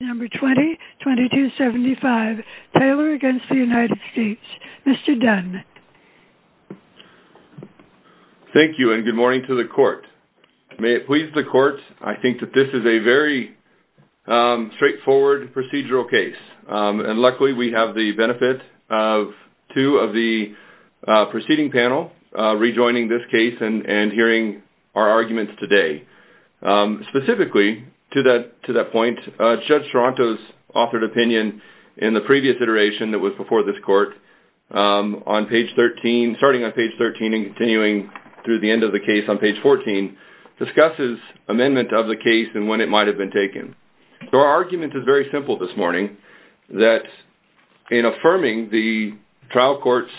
number 20 2275 Taylor against the United States. Mr. Dunn. Thank you and good morning to the court. May it please the court I think that this is a very straightforward procedural case and luckily we have the benefit of two of the preceding panel rejoining this case and and hearing our arguments today specifically to that to that point judge Toronto's authored opinion in the previous iteration that was before this court on page 13 starting on page 13 and continuing through the end of the case on page 14 discusses amendment of the case and when it might have been taken so our argument is very simple this morning that in affirming the trial courts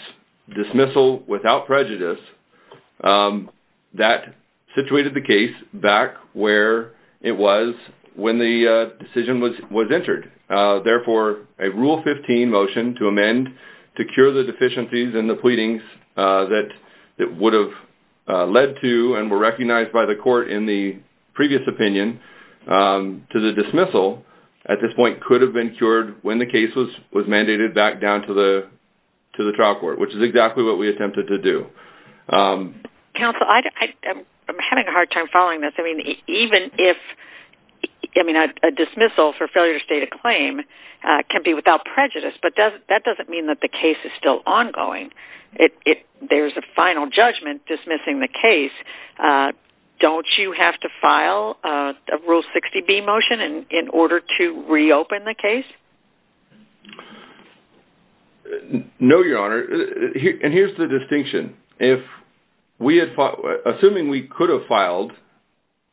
dismissal without prejudice that situated the case back where it was when the decision was was entered therefore a rule 15 motion to amend to cure the deficiencies and the pleadings that it would have led to and were recognized by the court in the previous opinion to the dismissal at this point could have been cured when the case was was mandated back down to the to the trial court which is exactly what we having a hard time following this I mean even if I mean a dismissal for failure to state a claim can be without prejudice but does that doesn't mean that the case is still ongoing it there's a final judgment dismissing the case don't you have to file a rule 60 B motion and in order to reopen the case no your honor and here's the distinction if we had fought assuming we could have filed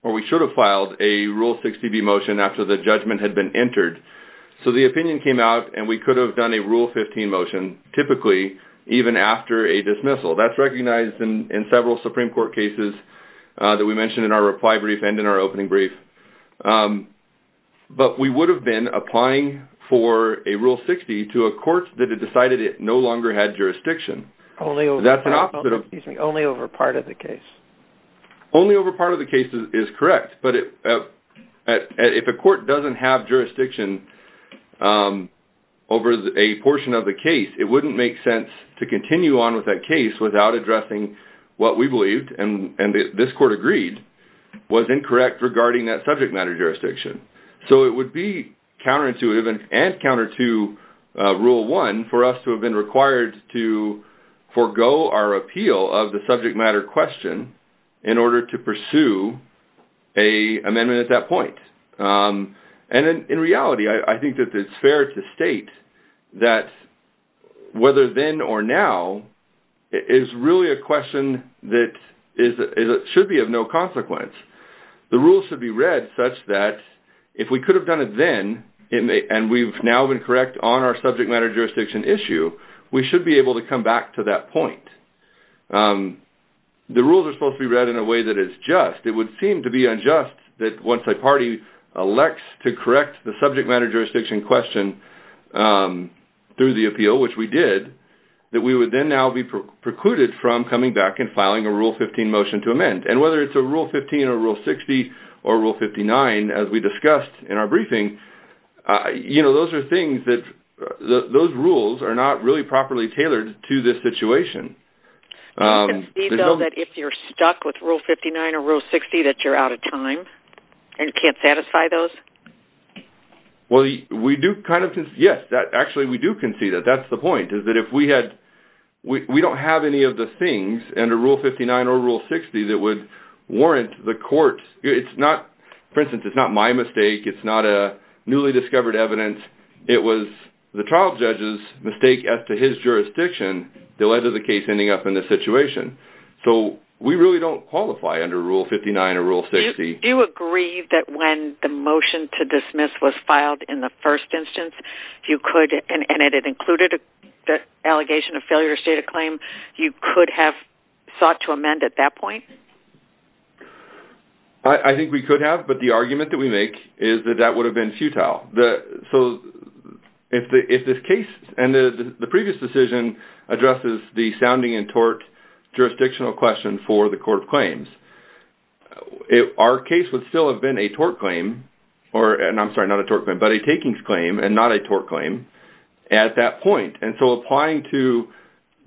or we should have filed a rule 60 B motion after the judgment had been entered so the opinion came out and we could have done a rule 15 motion typically even after a dismissal that's recognized in several Supreme Court cases that we mentioned in our reply brief and in our opening brief but we would have been applying for a rule 60 to a court that had decided it no longer had jurisdiction only that's an opposite of only over part of the case only over part of the case is correct but if a court doesn't have jurisdiction over a portion of the case it wouldn't make sense to continue on with that case without addressing what we believed and and this court agreed was incorrect regarding that subject matter jurisdiction so it would be counterintuitive and counter to rule one for us to have been required to forgo our appeal of the subject matter question in order to pursue a amendment at that point and in reality I think that it's fair to state that whether then or now is really a question that is it should be of no consequence the rules should be read such that if we could have done it then it may and we've now been correct on our subject matter jurisdiction issue we should be able to come back to that point the rules are supposed to be read in a way that is just it would seem to be unjust that once a party elects to correct the that we would then now be precluded from coming back and filing a rule 15 motion to amend and whether it's a rule 15 or rule 60 or rule 59 as we discussed in our briefing you know those are things that those rules are not really properly tailored to this situation if you're stuck with rule 59 or rule 60 that you're out of time and can't satisfy those well we do kind of yes actually we do concede that that's the point is that if we had we don't have any of the things and a rule 59 or rule 60 that would warrant the court it's not for instance it's not my mistake it's not a newly discovered evidence it was the trial judge's mistake as to his jurisdiction that led to the case ending up in this situation so we really don't qualify under rule 59 or rule 60 you agree that when the motion to dismiss was filed in the first instance if you could and it included the allegation of failure state of claim you could have sought to amend at that point I think we could have but the argument that we make is that that would have been futile the so if this case and the previous decision addresses the sounding and tort jurisdictional question for the court of claims if our case would still have been a tort claim or and I'm sorry not a but a takings claim and not a tort claim at that point and so applying to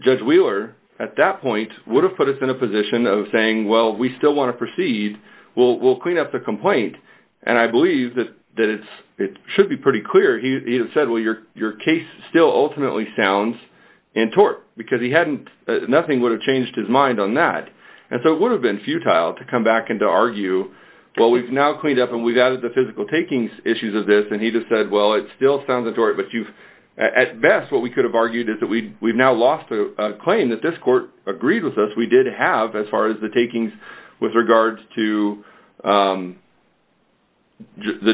judge Wheeler at that point would have put us in a position of saying well we still want to proceed we'll clean up the complaint and I believe that that it's it should be pretty clear he said well your your case still ultimately sounds in tort because he hadn't nothing would have changed his mind on that and so it would have been futile to come back and to argue well we've now cleaned up and we've added the physical takings issues of this and he just said well it still sounds of tort but you've at best what we could have argued is that we we've now lost a claim that this court agreed with us we did have as far as the takings with regards to the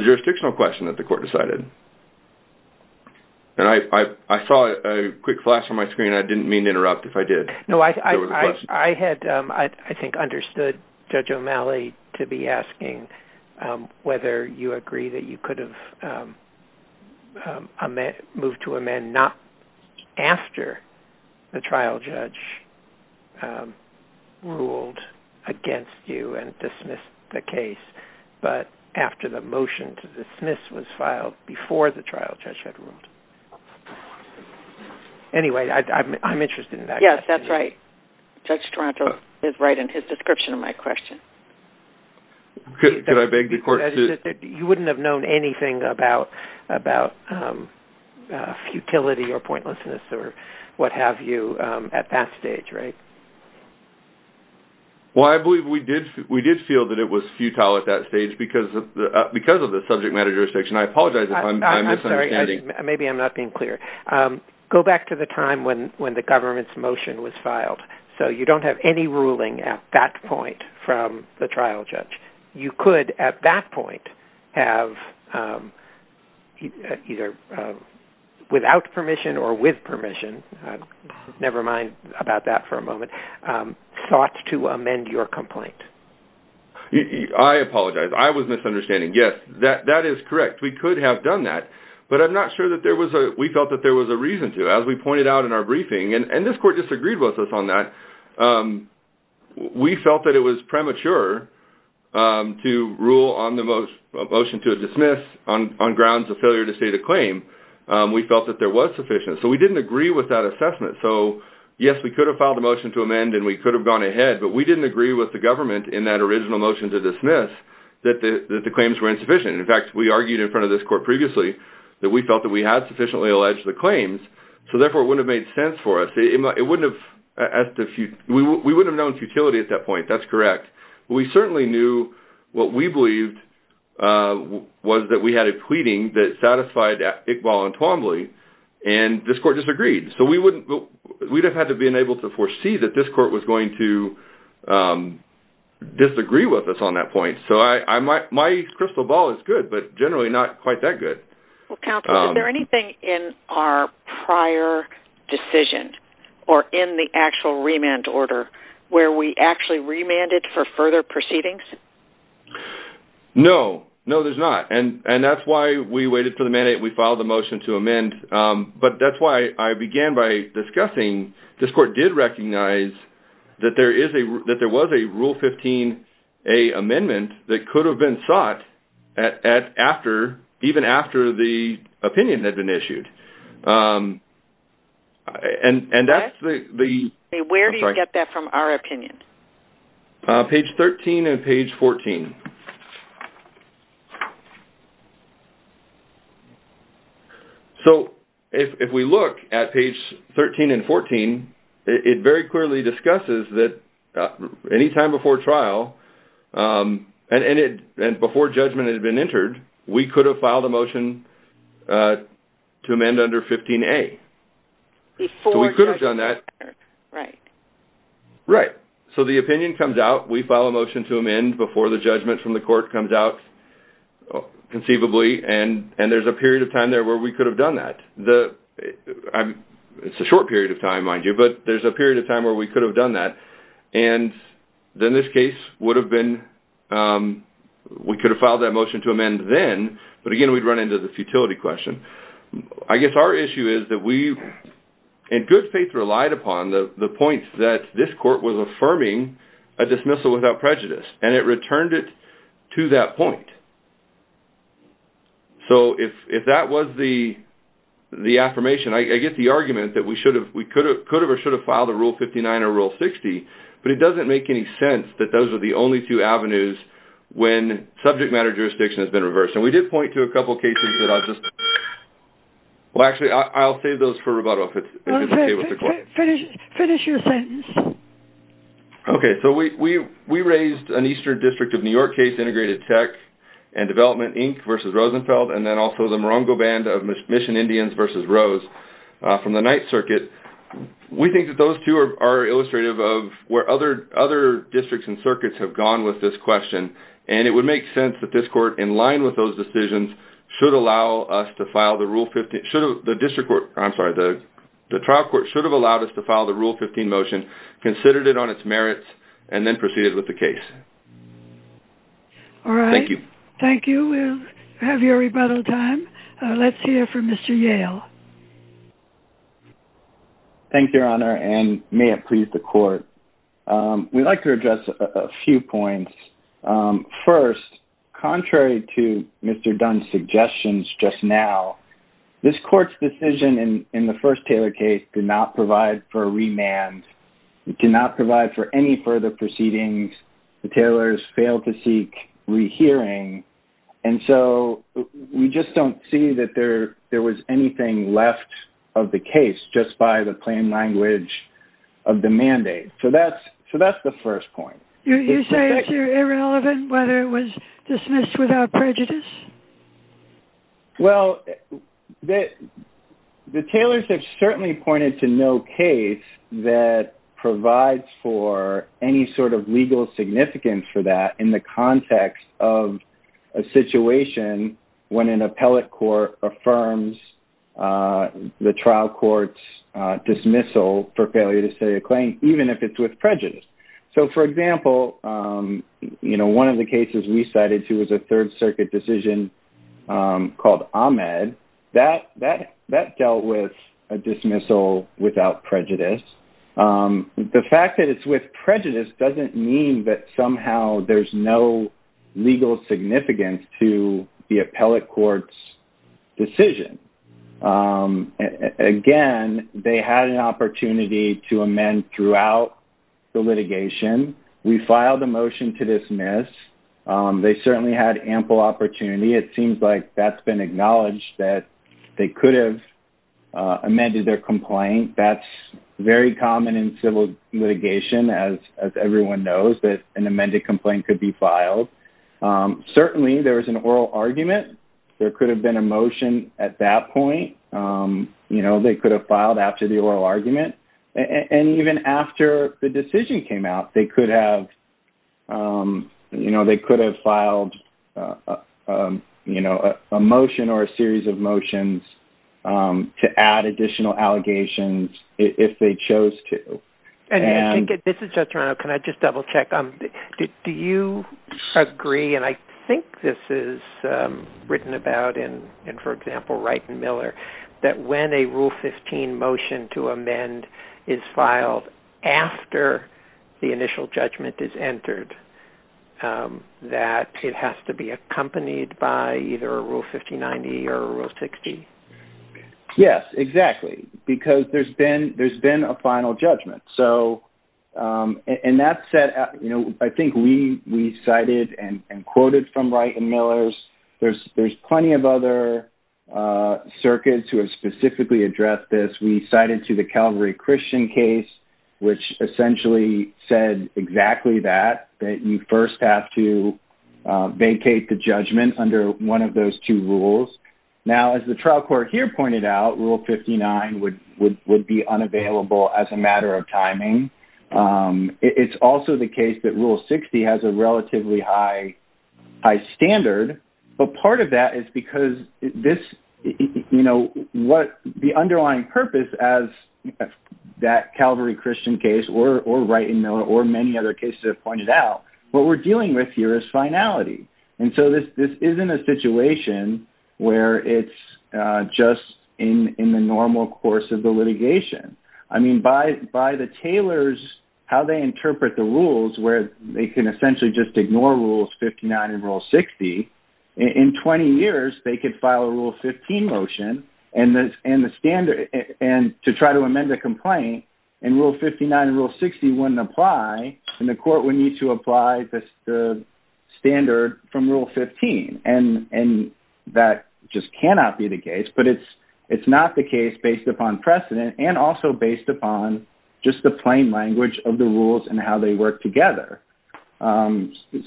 jurisdictional question that the court decided and I I saw a quick flash on my screen I didn't mean to interrupt if I had I think understood judge O'Malley to be asking whether you agree that you could have a man moved to amend not after the trial judge ruled against you and dismissed the case but after the motion to dismiss was filed before the right judge Toronto is right in his description of my question could I beg the court you wouldn't have known anything about about futility or pointlessness or what have you at that stage right well I believe we did we did feel that it was futile at that stage because of the because of the subject matter jurisdiction I apologize maybe I'm not being clear go back to the time when the government's motion was filed so you don't have any ruling at that point from the trial judge you could at that point have either without permission or with permission never mind about that for a moment thought to amend your complaint I apologize I was misunderstanding yes that that is correct we could have done that but I'm not sure that there was a we felt that there was a reason to as we pointed out in our briefing and and this court disagreed with us on that we felt that it was premature to rule on the most motion to dismiss on grounds of failure to state a claim we felt that there was sufficient so we didn't agree with that assessment so yes we could have filed a motion to amend and we could have gone ahead but we didn't agree with the government in that original motion to dismiss that the claims were insufficient in fact we argued in front of this court previously that we felt that we had sufficiently alleged the claims so therefore it would have made sense for us it might it wouldn't have asked if you we wouldn't have known futility at that point that's correct we certainly knew what we believed was that we had a pleading that satisfied Iqbal and Twombly and this court disagreed so we wouldn't we'd have had to been able to foresee that this court was going to disagree with us on that point so I might my crystal ball is good but anything in our prior decision or in the actual remand order where we actually remanded for further proceedings no no there's not and and that's why we waited for the mandate we filed a motion to amend but that's why I began by discussing this court did recognize that there is a that there was a rule 15 a amendment that could have been sought at after even after the opinion had been issued and and that's the the where do you get that from our opinion page 13 and page 14 so if we look at page 13 and 14 it very clearly discusses that any time before trial and it and before judgment had been entered we could have filed a motion to amend under 15 a before we could have done that right right so the opinion comes out we file a motion to amend before the judgment from the court comes out conceivably and and there's a period of time there where we could have done that the I'm it's a short period of time mind you but there's a period of time where we could have done that and then this would have been we could have filed that motion to amend then but again we'd run into the futility question I guess our issue is that we and good faith relied upon the the points that this court was affirming a dismissal without prejudice and it returned it to that point so if if that was the the affirmation I get the argument that we should have we could have could have or but it doesn't make any sense that those are the only two avenues when subject matter jurisdiction has been reversed and we did point to a couple cases that I just well actually I'll save those for rebuttal finish your sentence okay so we we raised an Eastern District of New York case integrated tech and development Inc versus Rosenfeld and then also the morongo band of mission Indians versus Rose from the Ninth Circuit we think that those two are illustrative of where other other districts and circuits have gone with this question and it would make sense that this court in line with those decisions should allow us to file the rule 50 should have the district court I'm sorry the the trial court should have allowed us to file the rule 15 motion considered it on its merits and then proceeded with the case all right thank you thank you we'll have your rebuttal time let's hear from mr. Yale thank your honor and may it please the court we'd like to address a few points first contrary to mr. Dunn suggestions just now this court's decision in in the first Taylor case did not provide for a remand it cannot provide for any further proceedings the tailors failed to seek rehearing and so we just don't see that there there was anything left of the case just by the plain language of the mandate so that's so that's the first point you say irrelevant whether it was dismissed without prejudice well that the tailors have certainly pointed to no case that provides for any sort of legal significance for that in the context of a situation when an appellate court affirms the trial courts dismissal for failure to say a claim even if it's with prejudice so for example you know one of the cases we cited who was a Third Circuit decision called Ahmed that that dealt with a dismissal without prejudice the fact that it's with prejudice doesn't mean that somehow there's no legal significance to the appellate courts decision again they had an opportunity to amend throughout the litigation we filed a motion to dismiss they certainly had ample opportunity it could have amended their complaint that's very common in civil litigation as everyone knows that an amended complaint could be filed certainly there was an oral argument there could have been a motion at that point you know they could have filed after the oral argument and even after the decision came out they could have you know they could have filed you know a series of motions to add additional allegations if they chose to and this is just around can I just double-check um do you agree and I think this is written about in and for example right and Miller that when a rule 15 motion to amend is filed after the initial judgment is entered that it has to be yes exactly because there's been there's been a final judgment so and that said you know I think we we cited and quoted from right and Miller's there's there's plenty of other circuits who have specifically addressed this we cited to the Calvary Christian case which essentially said exactly that that you first have to vacate the judgment under one of those two rules now as the trial court here pointed out rule 59 would would would be unavailable as a matter of timing it's also the case that rule 60 has a relatively high high standard but part of that is because this you know what the underlying purpose as that Calvary Christian case or right in there or many other cases have pointed out what we're dealing with here is finality and so this this isn't a situation where it's just in in the normal course of the litigation I mean by by the tailors how they interpret the rules where they can essentially just ignore rules 59 and rule 60 in 20 years they could file a rule 15 motion and that's and the standard and to try to amend a complaint and rule 59 and rule 60 wouldn't apply and the court would need to apply this the standard from rule 15 and and that just cannot be the case but it's it's not the case based upon precedent and also based upon just the plain language of the rules and how they work together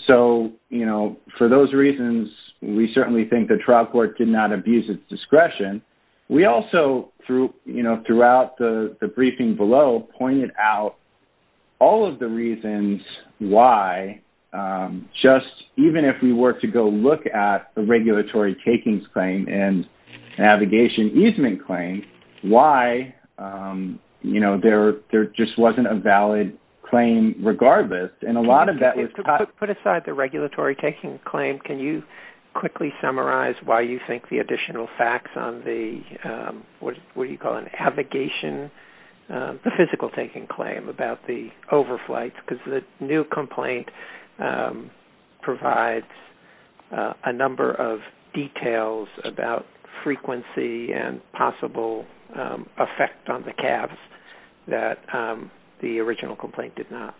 so you know for those reasons we certainly think the trial court did not abuse its discretion we also through you know throughout the briefing below pointed out all of the reasons why just even if we were to go look at the regulatory takings claim and navigation easement claim why you know there there just wasn't a valid claim regardless and a lot of that was put aside the regulatory taking claim can you quickly summarize why you think the physical taking claim about the overflights because the new complaint provides a number of details about frequency and possible effect on the calves that the original complaint did not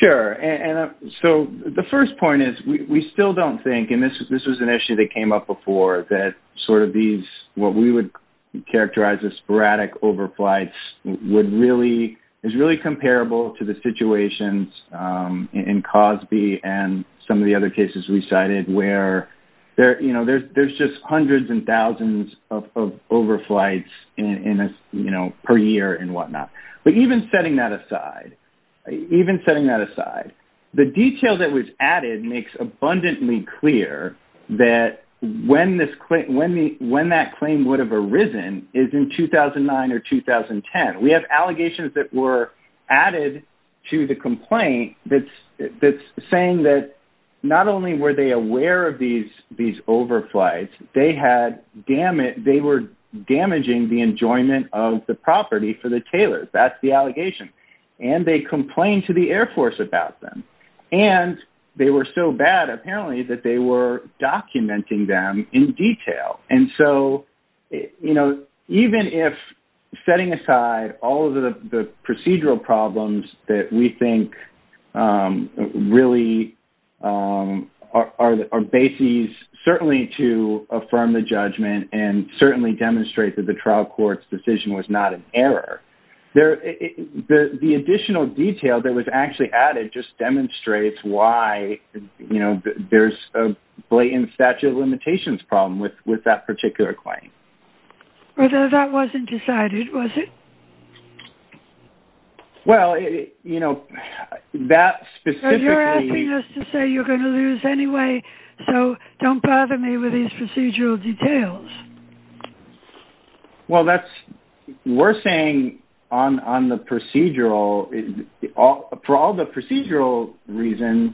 sure and so the first point is we still don't think and this is this was an issue that came up before that sort of these what we would characterize as sporadic overflights would really is really comparable to the situations in Cosby and some of the other cases we cited where there you know there's there's just hundreds and thousands of overflights in a you know per year and whatnot but even setting that aside even setting that aside the detail that was added makes abundantly clear that when this quick when the when that claim would have arisen is in 2009 or 2010 we have allegations that were added to the complaint that's that's saying that not only were they aware of these these overflights they had dammit they were damaging the enjoyment of the property for the tailors that's the allegation and they complained to the Air Force about them and they were so bad apparently that they were documenting them in detail and so you know even if setting aside all of the procedural problems that we think really are the bases certainly to affirm the judgment and certainly demonstrate that the trial courts decision was not an error there the the additional detail that was actually added just demonstrates why you know there's a blatant statute of limitations problem with with that particular claim although that wasn't decided was it well you know that specifically you're going to lose anyway so don't bother me with these procedural details well that's we're saying on on the procedural all for all the procedural reasons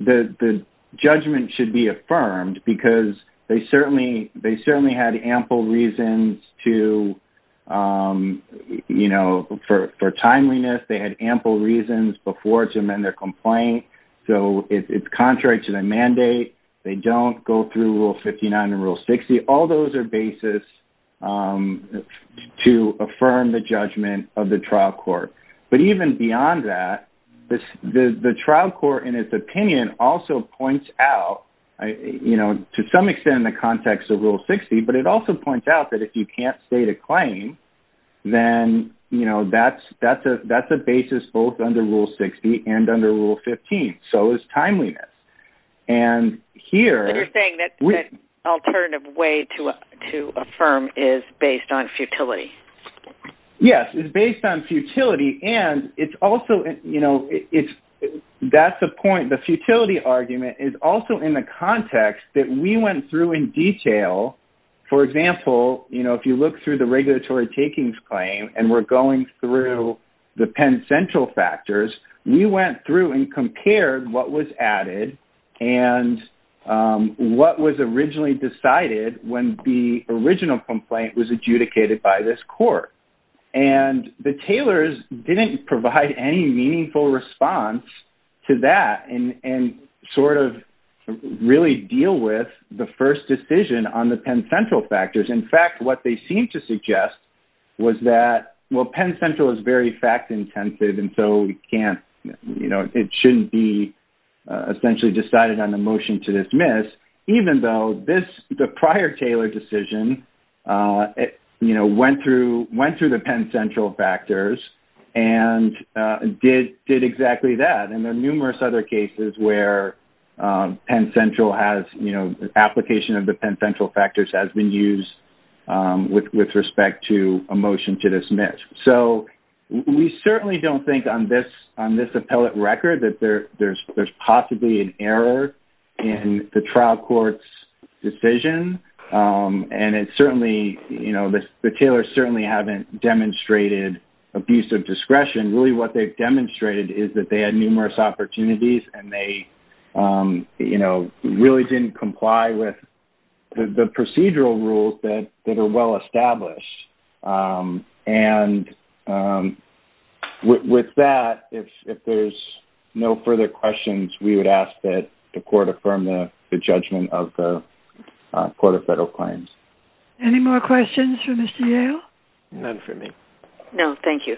the the judgment should be affirmed because they certainly they certainly had ample reasons to you know for timeliness they had ample reasons before to amend their complaint so it's contrary to the mandate they don't go through rule 59 and rule 60 all those are basis to affirm the judgment of the trial court but even beyond that this the the trial court in its opinion also points out you know to some extent in the context of rule 60 but it also points out that if you can't state a claim then you know that's that's a that's a basis both under rule 60 and under rule 15 so is timeliness and here we alternative way to to affirm is based on futility yes it's based on futility and it's also you know it's that's the point the futility argument is also in the context that we went through in detail for example you know if you look through the regulatory takings claim and we're going through the Penn Central factors we went through and compared what was added and what was originally decided when the original complaint was adjudicated by this court and the tailors didn't provide any meaningful response to that and and sort of really deal with the first decision on the Penn Central factors in fact what they seem to suggest was that well Penn Central is very fact-intensive and so we can't you know it shouldn't be essentially decided on the motion to dismiss even though this the prior Taylor decision it you know went through went through the Penn Central factors and did did exactly that and there are numerous other cases where Penn Central has you know the application of the Penn Central factors has been used with respect to a motion to dismiss so we certainly don't think on this on this appellate record that there there's there's possibly an error in the trial courts decision and it's certainly you know the tailors certainly haven't demonstrated abuse of discretion really what they've demonstrated is that they numerous opportunities and they you know really didn't comply with the procedural rules that that are well established and with that if there's no further questions we would ask that the court affirm the judgment of the Court of Federal Claims any more questions for Mr. Yale none for me no thank you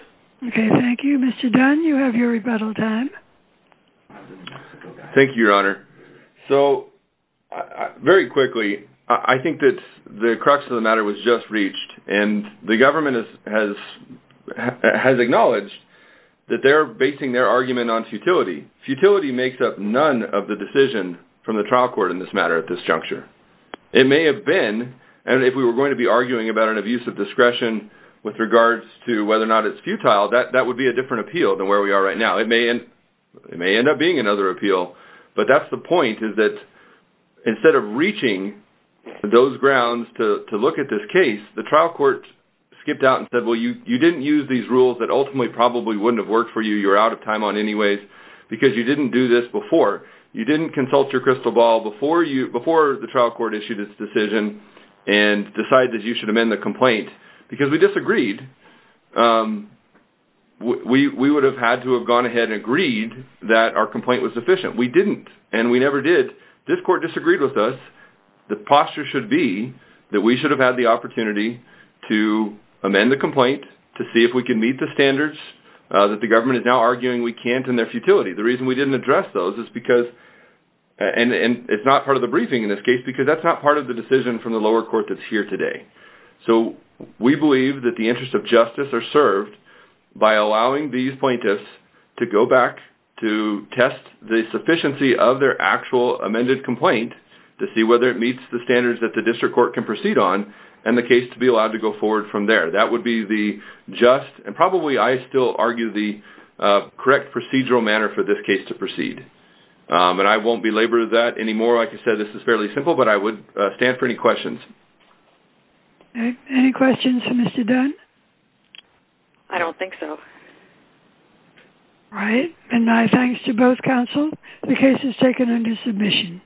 okay thank you mr. Dunn you have your rebuttal time thank you your honor so very quickly I think that the crux of the matter was just reached and the government has has acknowledged that they're basing their argument on futility futility makes up none of the decision from the trial court in this matter at this juncture it may have been and if we were going to be arguing about an abuse of discretion with regards to whether or not it's futile that that would be a different appeal than where we are right now it may and it may end up being another appeal but that's the point is that instead of reaching those grounds to look at this case the trial court skipped out and said well you you didn't use these rules that ultimately probably wouldn't have worked for you you're out of time on anyways because you didn't do this before you didn't consult your crystal ball before you before the trial court issued its decision and decide that you should amend the complaint because we disagreed we would have had to have gone ahead and agreed that our complaint was sufficient we didn't and we never did this court disagreed with us the posture should be that we should have had the opportunity to amend the complaint to see if we can meet the standards that the government is now arguing we can't in their futility the reason we didn't address those is because and and it's not part of the briefing in this case because that's not part of the decision from the lower court that's here today so we believe that the interest of justice are served by allowing these plaintiffs to go back to test the sufficiency of their actual amended complaint to see whether it meets the standards that the district court can proceed on and the case to be allowed to go forward from there that would be the just and probably I still argue the correct procedural manner for this case to proceed but I won't be labor that anymore like I said this is fairly simple but I would stand for any questions any questions for mr. Dunn I don't think so right and my thanks to both counsel the case is taken under submission